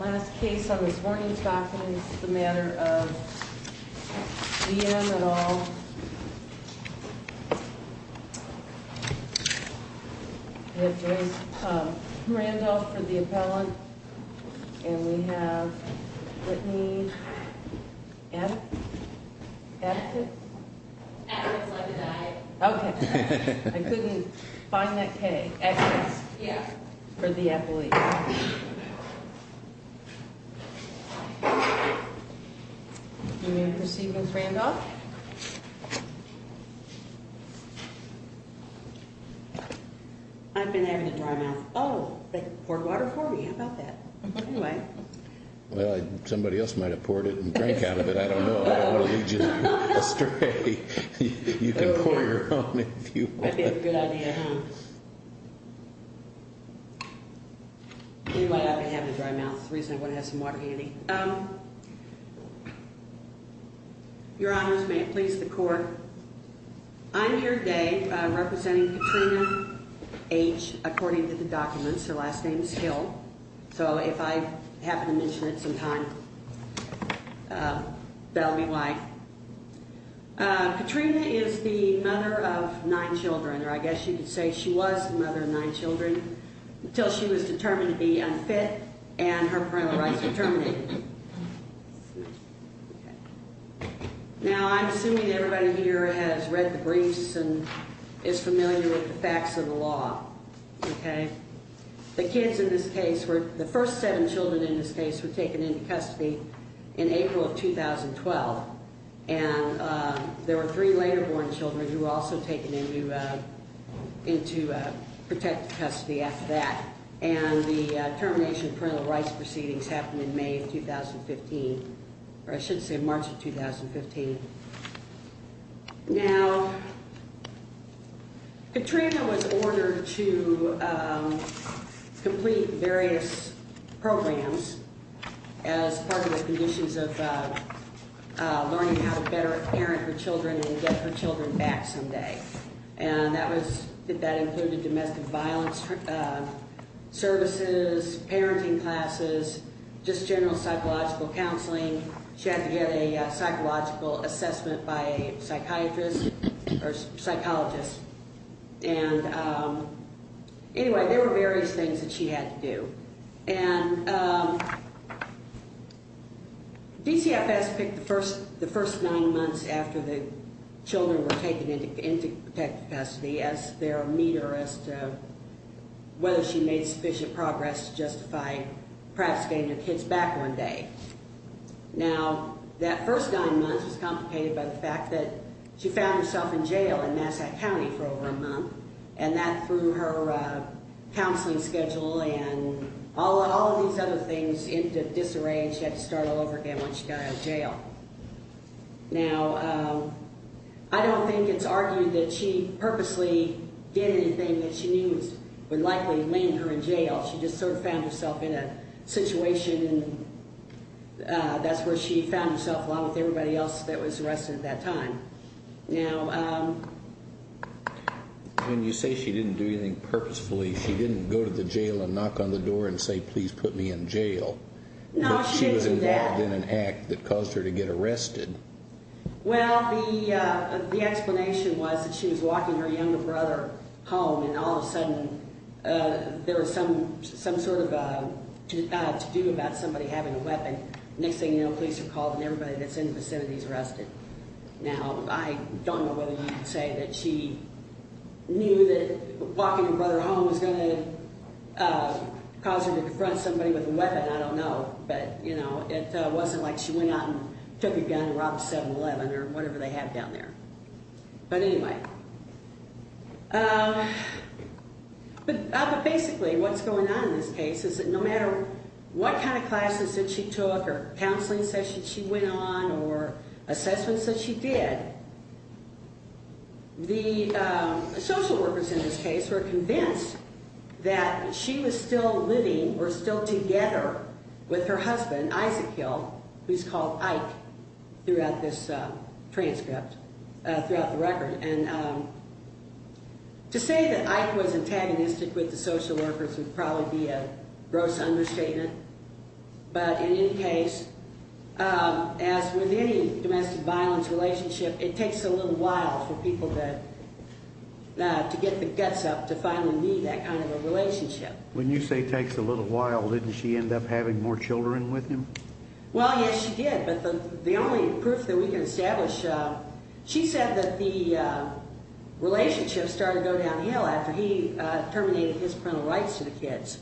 Last case on this morning's docket is the matter of D.M. et al. We have Joyce Randolph for the appellant. And we have Brittany Addick? Addick it? Addick is like an I. Okay. I couldn't find that K. Addick. Yeah. For the appellate. Do we have receiving Randolph? I've been having a dry mouth. Oh, they poured water for me. How about that? Anyway. Well, somebody else might have poured it and drank out of it. I don't know. I don't want to lead you astray. You can pour your own if you want. That would be a good idea, huh? Anyway, I've been having a dry mouth. The reason I want to have some water handy. Your Honors, may it please the Court. I'm here today representing Katrina H., according to the documents. Her last name is Hill. So if I happen to mention it sometime, that will be why. Katrina is the mother of nine children, or I guess you could say she was the mother of nine children, until she was determined to be unfit and her parental rights were terminated. Now, I'm assuming everybody here has read the briefs and is familiar with the facts of the law. The kids in this case, the first seven children in this case, were taken into custody in April of 2012. And there were three later born children who were also taken into protected custody after that. And the termination of parental rights proceedings happened in May of 2015, or I should say March of 2015. Now, Katrina was ordered to complete various programs as part of the conditions of learning how to better parent her children and get her children back someday. And that included domestic violence services, parenting classes, just general psychological counseling. She had to get a psychological assessment by a psychiatrist or psychologist. And anyway, there were various things that she had to do. And DCFS picked the first nine months after the children were taken into protected custody as their meter as to whether she made sufficient progress to justify perhaps getting her kids back one day. Now, that first nine months was complicated by the fact that she found herself in jail in Massachusetts County for over a month. And that threw her counseling schedule and all of these other things into disarray and she had to start all over again once she got out of jail. Now, I don't think it's argued that she purposely did anything that she knew would likely land her in jail. She just sort of found herself in a situation and that's where she found herself along with everybody else that was arrested at that time. Now, when you say she didn't do anything purposefully, she didn't go to the jail and knock on the door and say, please put me in jail. No, she didn't do that. But she was involved in an act that caused her to get arrested. Well, the explanation was that she was walking her younger brother home and all of a sudden there was some sort of to do about somebody having a weapon. Next thing you know, police are called and everybody that's in the vicinity is arrested. Now, I don't know whether you would say that she knew that walking her brother home was going to cause her to confront somebody with a weapon. I don't know. But, you know, it wasn't like she went out and took a gun and robbed a 7-Eleven or whatever they have down there. But anyway, but basically what's going on in this case is that no matter what kind of classes that she took or counseling sessions she went on or assessments that she did, the social workers in this case were convinced that she was still living or still together with her husband, Isaac Hill, who's called Ike throughout this transcript, throughout the record. And to say that Ike was antagonistic with the social workers would probably be a gross understatement. But in any case, as with any domestic violence relationship, it takes a little while for people to get the guts up to finally meet that kind of a relationship. When you say it takes a little while, didn't she end up having more children with him? Well, yes, she did. But the only proof that we can establish, she said that the relationship started to go downhill after he terminated his parental rights to the kids.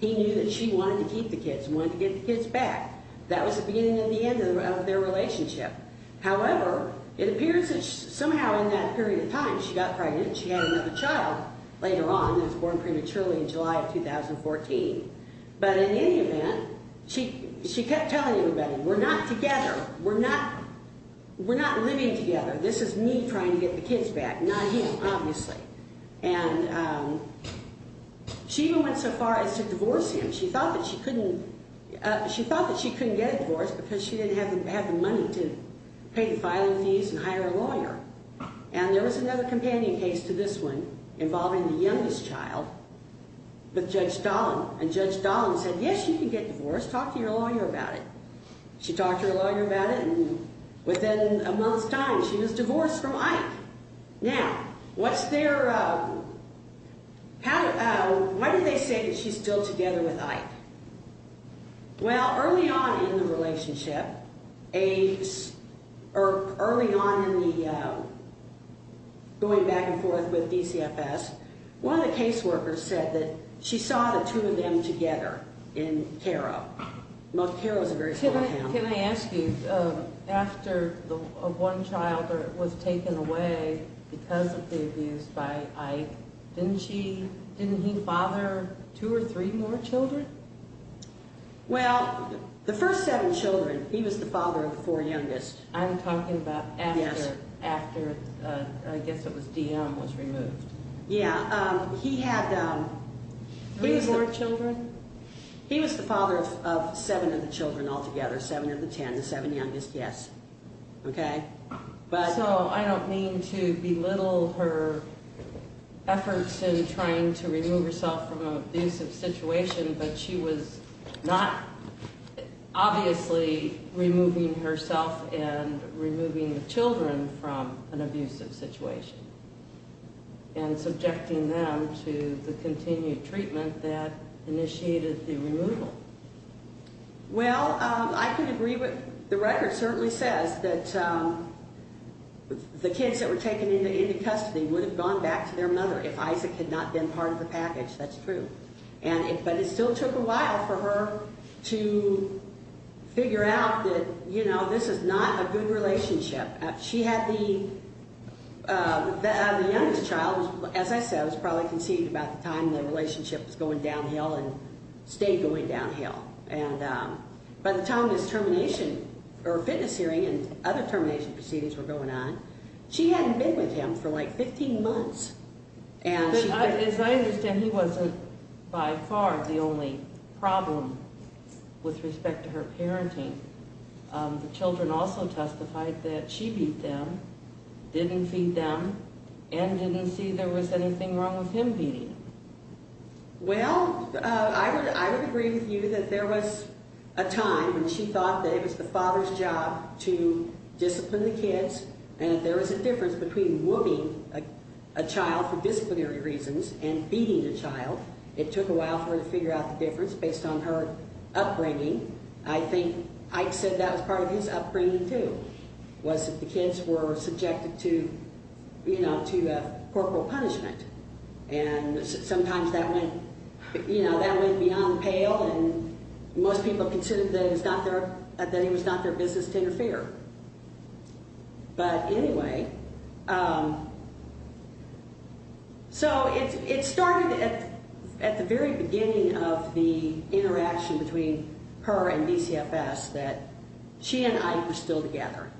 He knew that she wanted to keep the kids, wanted to get the kids back. That was the beginning and the end of their relationship. However, it appears that somehow in that period of time she got pregnant and she had another child later on and was born prematurely in July of 2014. But in any event, she kept telling everybody, we're not together. We're not living together. This is me trying to get the kids back, not him, obviously. And she even went so far as to divorce him. She thought that she couldn't get a divorce because she didn't have the money to pay the filing fees and hire a lawyer. And there was another companion case to this one involving the youngest child with Judge Dahlin. And Judge Dahlin said, yes, you can get divorced. Talk to your lawyer about it. She talked to her lawyer about it, and within a month's time she was divorced from Ike. Now, what's their pattern? Well, early on in the relationship, early on in the going back and forth with DCFS, one of the caseworkers said that she saw the two of them together in Cairo. Cairo is a very small town. Can I ask you, after one child was taken away because of the abuse by Ike, didn't he father two or three more children? Well, the first seven children, he was the father of the four youngest. I'm talking about after, I guess it was DM was removed. Yeah. He had three more children? He was the father of seven of the children altogether, seven of the ten, the seven youngest, yes. Okay. So I don't mean to belittle her efforts in trying to remove herself from an abusive situation, but she was not obviously removing herself and removing the children from an abusive situation and subjecting them to the continued treatment that initiated the removal. Well, I can agree with the record certainly says that the kids that were taken into custody would have gone back to their mother if Isaac had not been part of the package. That's true. But it still took a while for her to figure out that, you know, this is not a good relationship. She had the youngest child, as I said, was probably conceived about the time the relationship was going downhill and stayed going downhill. And by the time this termination or fitness hearing and other termination proceedings were going on, she hadn't been with him for like 15 months. As I understand, he wasn't by far the only problem with respect to her parenting. The children also testified that she beat them, didn't feed them, and didn't see there was anything wrong with him beating them. Well, I would agree with you that there was a time when she thought that it was the father's job to discipline the kids and that there was a difference between whooping a child for disciplinary reasons and beating the child. It took a while for her to figure out the difference based on her upbringing. I think Ike said that was part of his upbringing, too, was that the kids were subjected to corporal punishment. And sometimes that went beyond the pale, and most people considered that it was not their business to interfere. But anyway, so it started at the very beginning of the interaction between her and DCFS that she and Ike were still together.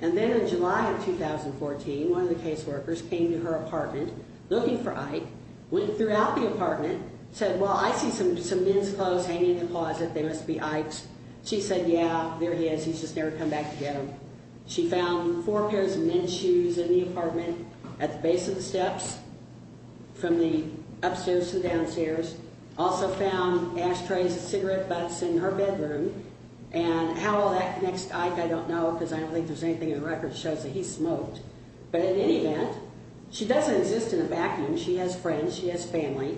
And then in July of 2014, one of the caseworkers came to her apartment looking for Ike, went throughout the apartment, said, well, I see some men's clothes hanging in the closet. They must be Ike's. She said, yeah, there he is. He's just never come back to get them. She found four pairs of men's shoes in the apartment at the base of the steps from the upstairs to the downstairs. Also found ashtrays of cigarette butts in her bedroom. And how all that connects to Ike, I don't know, because I don't think there's anything in the records that shows that he smoked. But in any event, she doesn't exist in a vacuum. She has friends. She has family.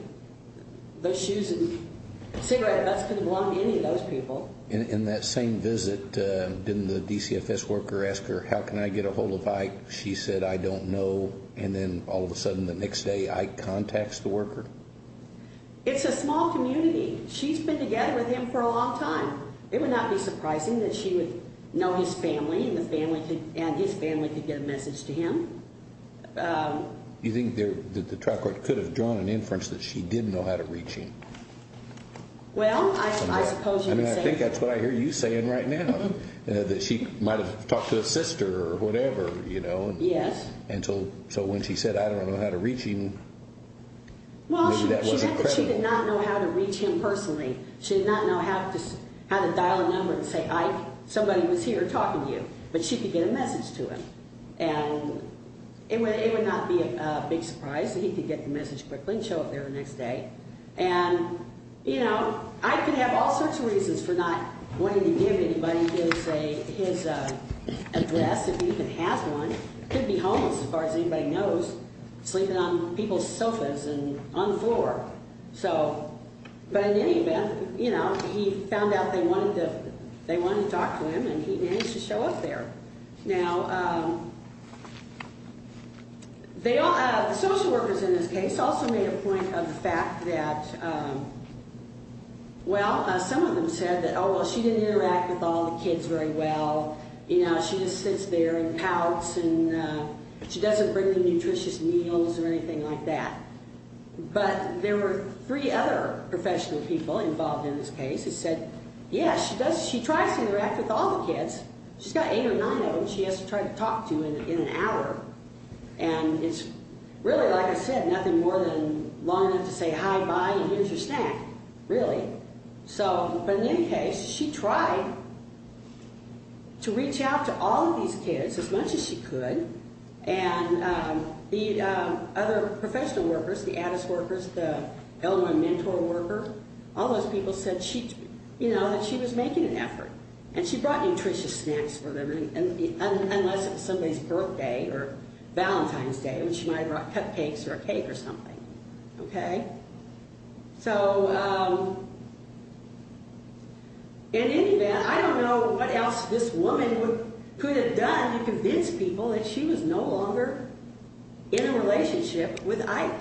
Those shoes and cigarette butts couldn't belong to any of those people. In that same visit, didn't the DCFS worker ask her, how can I get a hold of Ike? She said, I don't know. And then all of a sudden the next day, Ike contacts the worker? It's a small community. She's been together with him for a long time. It would not be surprising that she would know his family and his family could get a message to him. You think that the trial court could have drawn an inference that she did know how to reach him? Well, I suppose you could say that. I mean, I think that's what I hear you saying right now, that she might have talked to his sister or whatever, you know. Yes. And so when she said, I don't know how to reach him, maybe that wasn't credible. Well, she said that she did not know how to reach him personally. She did not know how to dial a number and say, Ike, somebody was here talking to you. But she could get a message to him. And it would not be a big surprise that he could get the message quickly and show up there the next day. And, you know, Ike could have all sorts of reasons for not wanting to give anybody his address if he even has one. He could be homeless, as far as anybody knows, sleeping on people's sofas and on the floor. So, but in any event, you know, he found out they wanted to talk to him, and he managed to show up there. Now, the social workers in this case also made a point of the fact that, well, some of them said that, oh, well, she didn't interact with all the kids very well. You know, she just sits there and pouts, and she doesn't bring them nutritious meals or anything like that. But there were three other professional people involved in this case who said, yeah, she tries to interact with all the kids. She's got eight or nine of them she has to try to talk to in an hour. And it's really, like I said, nothing more than long enough to say hi, bye, and here's your snack, really. So, but in any case, she tried to reach out to all of these kids as much as she could. And the other professional workers, the Addis workers, the L1 mentor worker, all those people said, you know, that she was making an effort, and she brought nutritious snacks for them, unless it was somebody's birthday or Valentine's Day, when she might have brought cupcakes or a cake or something. Okay? So in any event, I don't know what else this woman could have done to convince people that she was no longer in a relationship with Ike.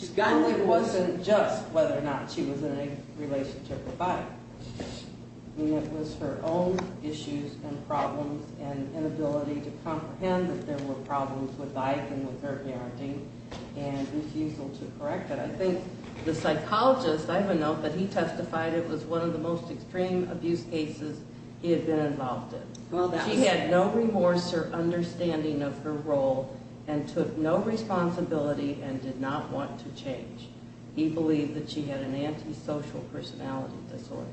It wasn't just whether or not she was in a relationship with Ike. I mean, it was her own issues and problems and inability to comprehend that there were problems with Ike and with her parenting and refusal to correct it. I think the psychologist, I don't know, but he testified it was one of the most extreme abuse cases he had been involved in. She had no remorse or understanding of her role and took no responsibility and did not want to change. He believed that she had an antisocial personality disorder.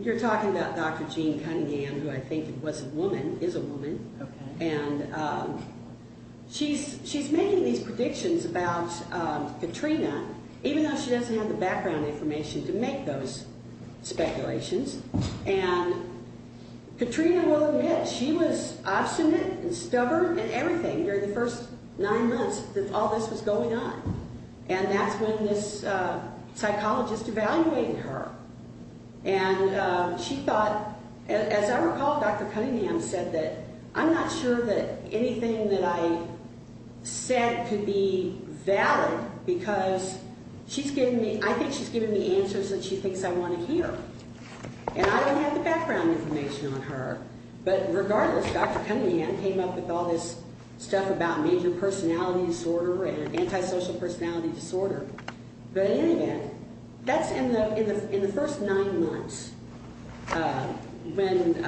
You're talking about Dr. Jean Cunningham, who I think was a woman, is a woman. Okay. And she's making these predictions about Katrina, even though she doesn't have the background information to make those speculations. And Katrina will admit she was obstinate and stubborn and everything during the first nine months that all this was going on. And that's when this psychologist evaluated her. And she thought, as I recall, Dr. Cunningham said that, I'm not sure that anything that I said could be valid because she's giving me, I think she's giving me answers that she thinks I want to hear. And I don't have the background information on her. But regardless, Dr. Cunningham came up with all this stuff about major personality disorder and antisocial personality disorder. But in the end, that's in the first nine months when,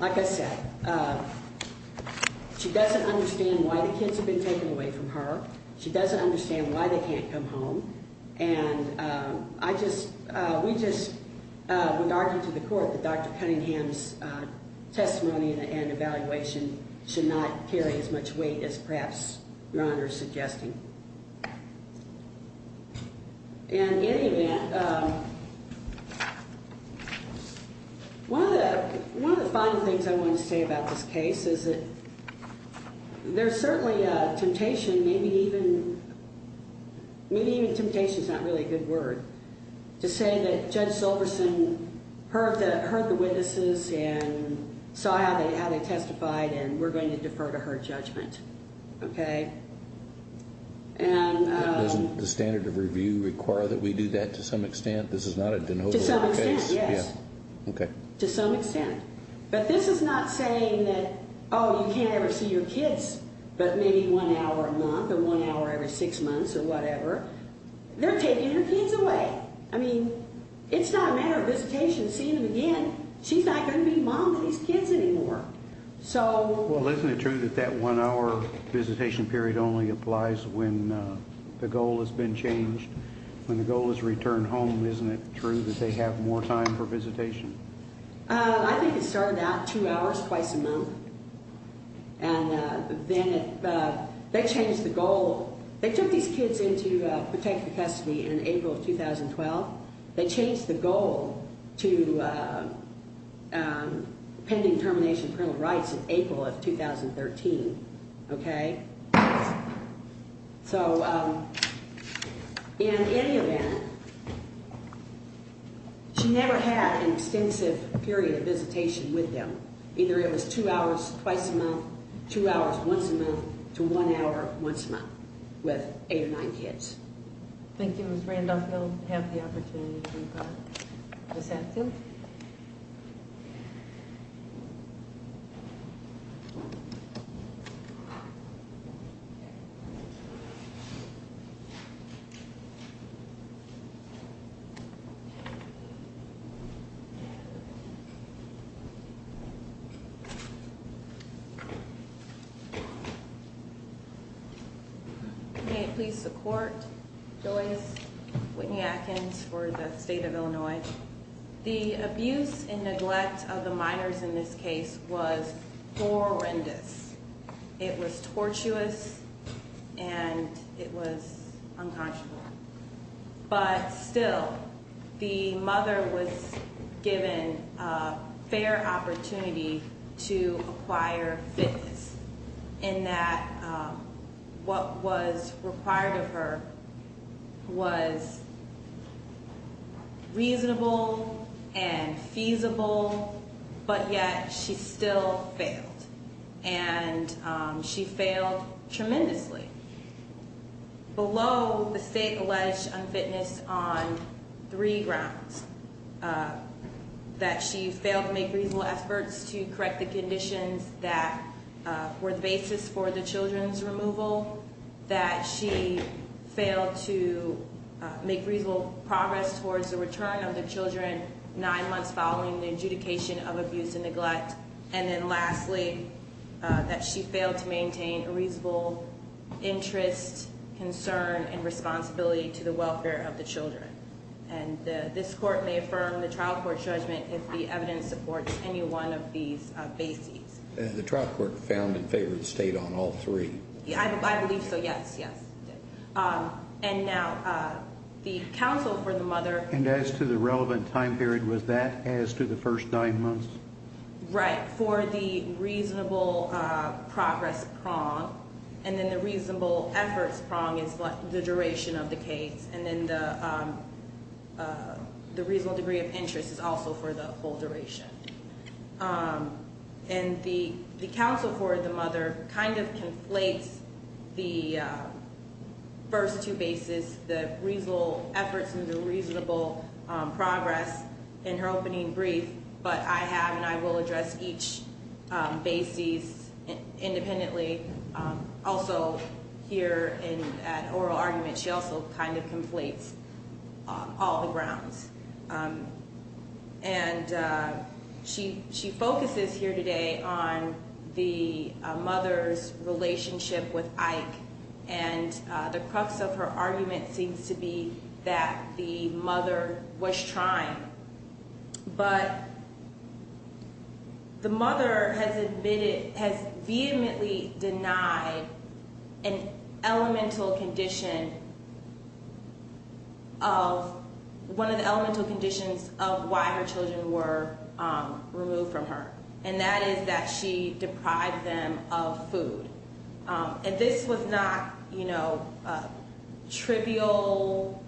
like I said, she doesn't understand why the kids have been taken away from her. She doesn't understand why they can't come home. And we just would argue to the court that Dr. Cunningham's testimony and evaluation should not carry as much weight as perhaps Your Honor is suggesting. And in any event, one of the final things I want to say about this case is that there's certainly a temptation, maybe even temptation's not really a good word, to say that Judge Silverson heard the witnesses and saw how they testified and we're going to defer to her judgment. Okay. And... Doesn't the standard of review require that we do that to some extent? This is not a de novo case. To some extent, yes. Okay. To some extent. But this is not saying that, oh, you can't ever see your kids but maybe one hour a month or one hour every six months or whatever. They're taking her kids away. I mean, it's not a matter of visitation, seeing them again. She's not going to be mom to these kids anymore. So... Well, isn't it true that that one hour visitation period only applies when the goal has been changed? When the goal is returned home, isn't it true that they have more time for visitation? I think it started out two hours twice a month. And then they changed the goal. They took these kids in to protect the custody in April of 2012. They changed the goal to pending termination of parental rights in April of 2013. Okay. So, in any event, she never had an extensive period of visitation with them. Either it was two hours twice a month, two hours once a month, to one hour once a month with eight or nine kids. Thank you, Ms. Randolph. I don't have the opportunity to do that. I just ask you. Okay. May it please the court. Joyce Whitney Atkins for the state of Illinois. The abuse and neglect of the minors in this case was horrendous. It was tortuous and it was unconscionable. But still, the mother was given a fair opportunity to acquire fitness. In that what was required of her was reasonable and feasible, but yet she still failed. And she failed tremendously. Below the state-alleged unfitness on three grounds. That she failed to make reasonable efforts to correct the conditions that were the basis for the children's removal. That she failed to make reasonable progress towards the return of the children nine months following the adjudication of abuse and neglect. And then lastly, that she failed to maintain a reasonable interest, concern, and responsibility to the welfare of the children. And this court may affirm the trial court judgment if the evidence supports any one of these bases. The trial court found in favor of the state on all three. I believe so, yes. And now the counsel for the mother. And as to the relevant time period, was that as to the first nine months? Right. For the reasonable progress prong. And then the reasonable efforts prong is the duration of the case. And then the reasonable degree of interest is also for the whole duration. And the counsel for the mother kind of conflates the first two bases. The reasonable efforts and the reasonable progress in her opening brief. But I have and I will address each bases independently. Also here in an oral argument, she also kind of conflates all the grounds. And she focuses here today on the mother's relationship with Ike. And the crux of her argument seems to be that the mother was trying. But the mother has vehemently denied an elemental condition of one of the elemental conditions of why her children were removed from her. And that is that she deprived them of food. And this was not, you know, trivial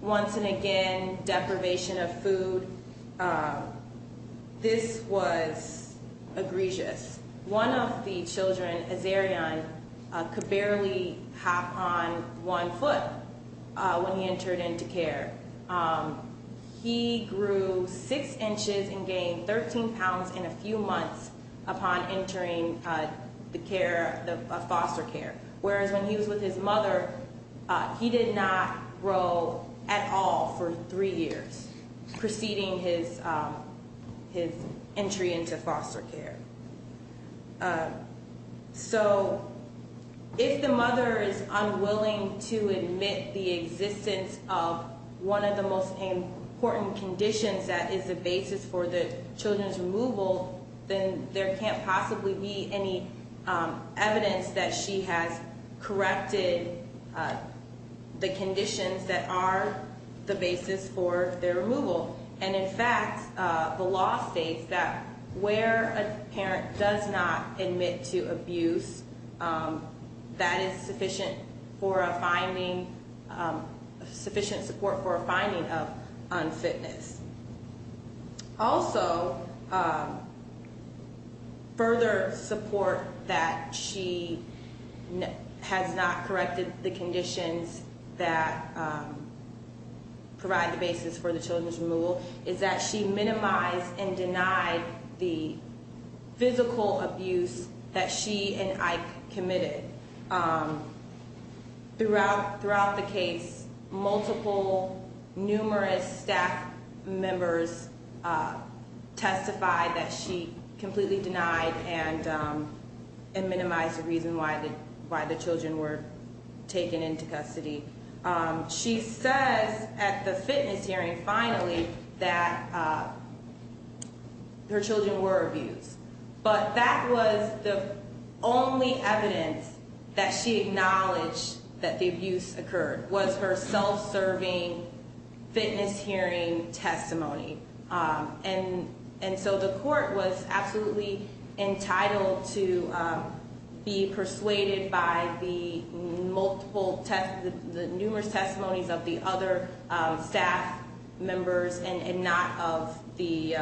once and again deprivation of food. This was egregious. One of the children, Azarian, could barely hop on one foot when he entered into care. He grew six inches and gained 13 pounds in a few months upon entering the care of foster care. Whereas when he was with his mother, he did not grow at all for three years preceding his entry into foster care. So if the mother is unwilling to admit the existence of one of the most important conditions that is the basis for the children's removal. Then there can't possibly be any evidence that she has corrected the conditions that are the basis for their removal. And in fact, the law states that where a parent does not admit to abuse, that is sufficient for a finding, sufficient support for a finding of unfitness. Also, further support that she has not corrected the conditions that provide the basis for the children's removal, is that she minimized and denied the physical abuse that she and Ike committed. Throughout the case, multiple, numerous staff members testified that she completely denied and minimized the reason why the children were taken into custody. She says at the fitness hearing, finally, that her children were abused. But that was the only evidence that she acknowledged that the abuse occurred, was her self-serving fitness hearing testimony. And so the court was absolutely entitled to be persuaded by the numerous testimonies of the other staff members, and not of the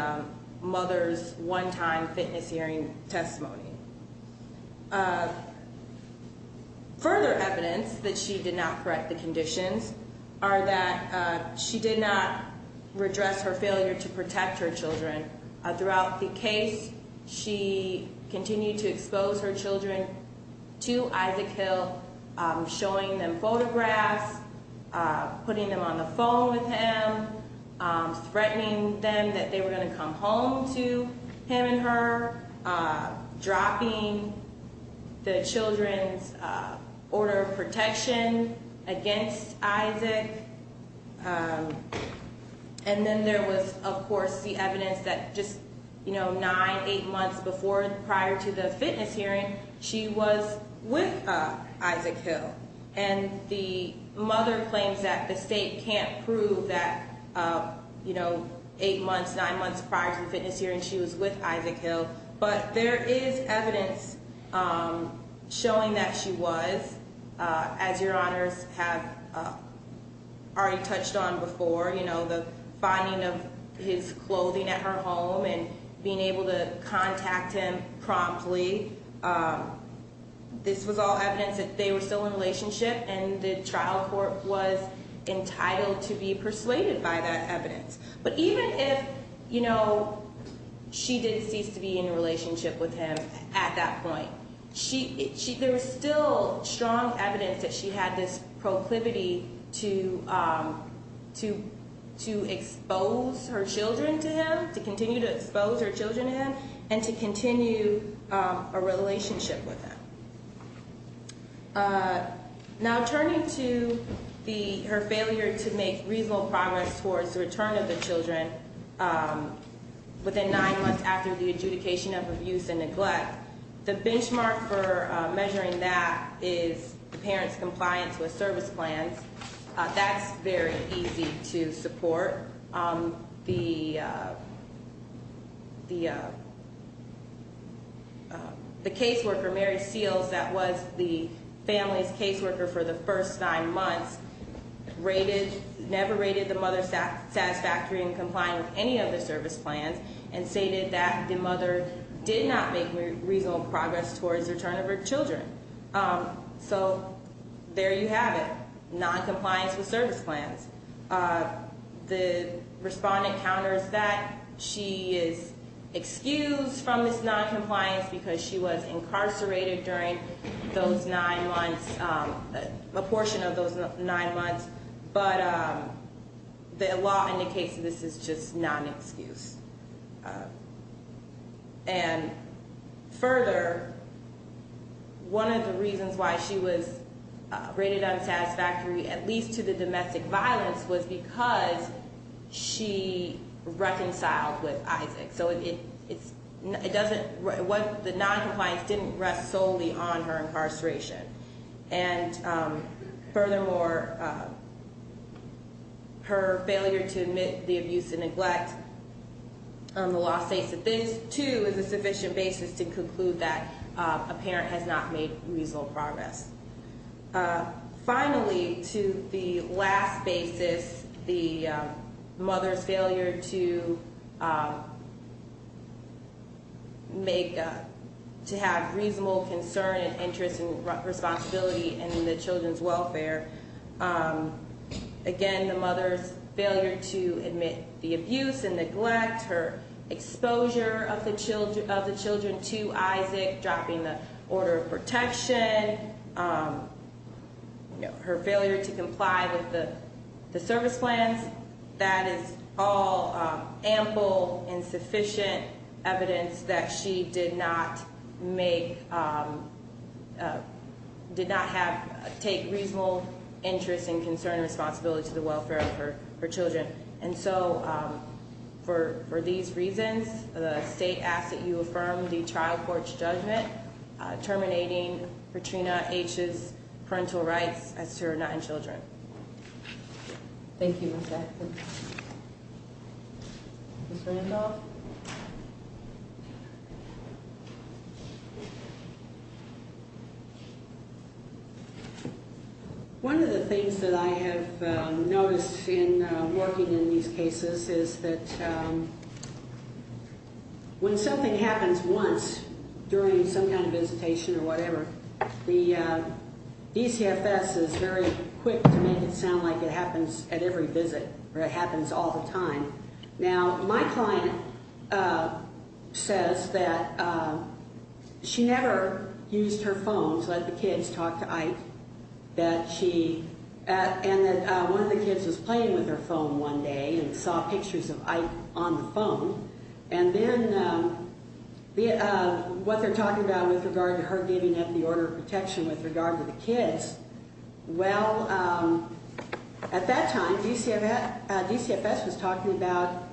mother's one-time fitness hearing testimony. Further evidence that she did not correct the conditions are that she did not redress her failure to protect her children. Throughout the case, she continued to expose her children to Isaac Hill, showing them photographs, putting them on the phone with him, threatening them that they were going to come home to him and her, dropping the children's order of protection against Isaac. And then there was, of course, the evidence that just, you know, nine, eight months prior to the fitness hearing, she was with Isaac Hill. And the mother claims that the state can't prove that, you know, eight months, nine months prior to the fitness hearing, she was with Isaac Hill. But there is evidence showing that she was, as your honors have already touched on before, you know, the finding of his clothing at her home and being able to contact him promptly. This was all evidence that they were still in relationship, and the trial court was entitled to be persuaded by that evidence. But even if, you know, she did cease to be in a relationship with him at that point, there was still strong evidence that she had this proclivity to expose her children to him, to continue to expose her children to him, and to continue a relationship with him. Now, turning to her failure to make reasonable progress towards the return of the children within nine months after the adjudication of abuse and neglect, the benchmark for measuring that is the parent's compliance with service plans. That's very easy to support. The caseworker, Mary Seals, that was the family's caseworker for the first nine months, never rated the mother satisfactory in complying with any of the service plans and stated that the mother did not make reasonable progress towards the return of her children. So there you have it, noncompliance with service plans. The respondent counters that. She is excused from this noncompliance because she was incarcerated during those nine months, a portion of those nine months, but the law indicates that this is just non-excuse. And further, one of the reasons why she was rated unsatisfactory, at least to the domestic violence, was because she reconciled with Isaac. So the noncompliance didn't rest solely on her incarceration. And furthermore, her failure to admit the abuse and neglect, the law states that this, too, is a sufficient basis to conclude that a parent has not made reasonable progress. Finally, to the last basis, the mother's failure to make, to have reasonable concern and interest and responsibility in the children's welfare. Again, the mother's failure to admit the abuse and neglect, her exposure of the children to Isaac, dropping the order of protection, her failure to comply with the service plans, that is all ample and sufficient evidence that she did not make, did not have, take reasonable interest and concern and responsibility to the welfare of her children. And so for these reasons, the state asks that you affirm the trial court's judgment terminating Petrina H.'s parental rights as to her nine children. Thank you, Ms. Atkins. Ms. Randolph? One of the things that I have noticed in working in these cases is that when something happens once during some kind of visitation or whatever, the DCFS is very quick to make it sound like it happens at every visit or it happens all the time. Now, my client says that she never used her phone to let the kids talk to Ike, and that one of the kids was playing with her phone one day and saw pictures of Ike on the phone. And then what they're talking about with regard to her giving up the order of protection with regard to the kids, well, at that time DCFS was talking about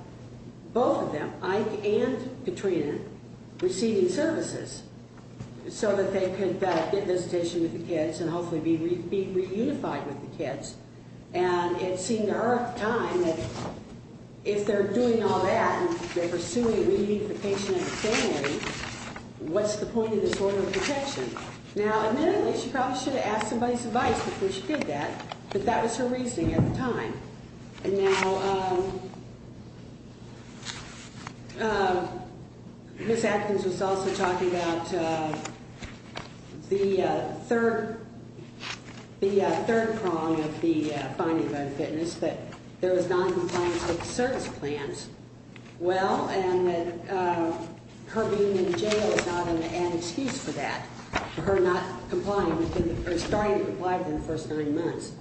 both of them, Ike and Petrina, receiving services so that they could get visitation with the kids and hopefully be reunified with the kids. And it seemed to her at the time that if they're doing all that and they're pursuing reunification of the family, what's the point of this order of protection? Now, admittedly, she probably should have asked somebody's advice before she did that, but that was her reasoning at the time. And now Ms. Atkins was also talking about the third prong of the finding of unfitness, that there was noncompliance with the service plans. Well, and that her being in jail is not an excuse for that, for her not complying or starting to comply within the first nine months.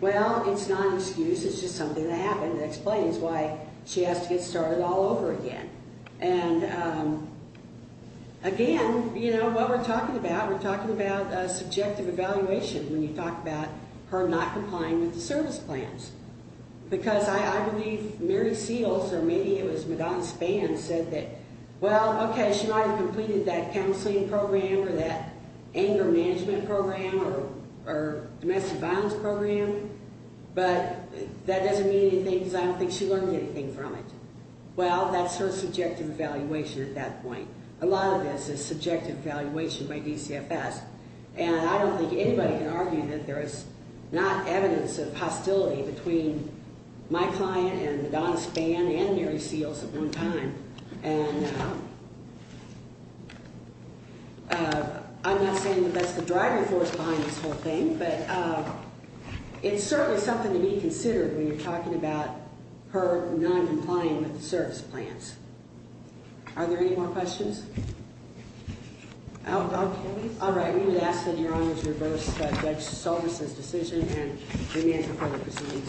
Well, it's not an excuse. It's just something that happened that explains why she has to get started all over again. And again, you know, what we're talking about, we're talking about subjective evaluation when you talk about her not complying with the service plans. Because I believe Mary Seals, or maybe it was Madonna Spann, said that, well, okay, she might have completed that counseling program or that anger management program or domestic violence program, but that doesn't mean anything because I don't think she learned anything from it. Well, that's her subjective evaluation at that point. A lot of this is subjective evaluation by DCFS. And I don't think anybody can argue that there is not evidence of hostility between my client and Madonna Spann and Mary Seals at one time. And I'm not saying that that's the driving force behind this whole thing, but it's certainly something to be considered when you're talking about her noncompliance with the service plans. Are there any more questions? All right. We would ask that your honors reverse Judge Saldus' decision and remand her for the proceedings.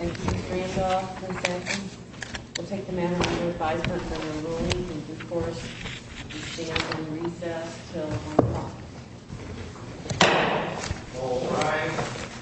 And Chief Randolph, consenting? We'll take the matter under advisement for the ruling in due course. We stand in recess until 1 o'clock. All rise.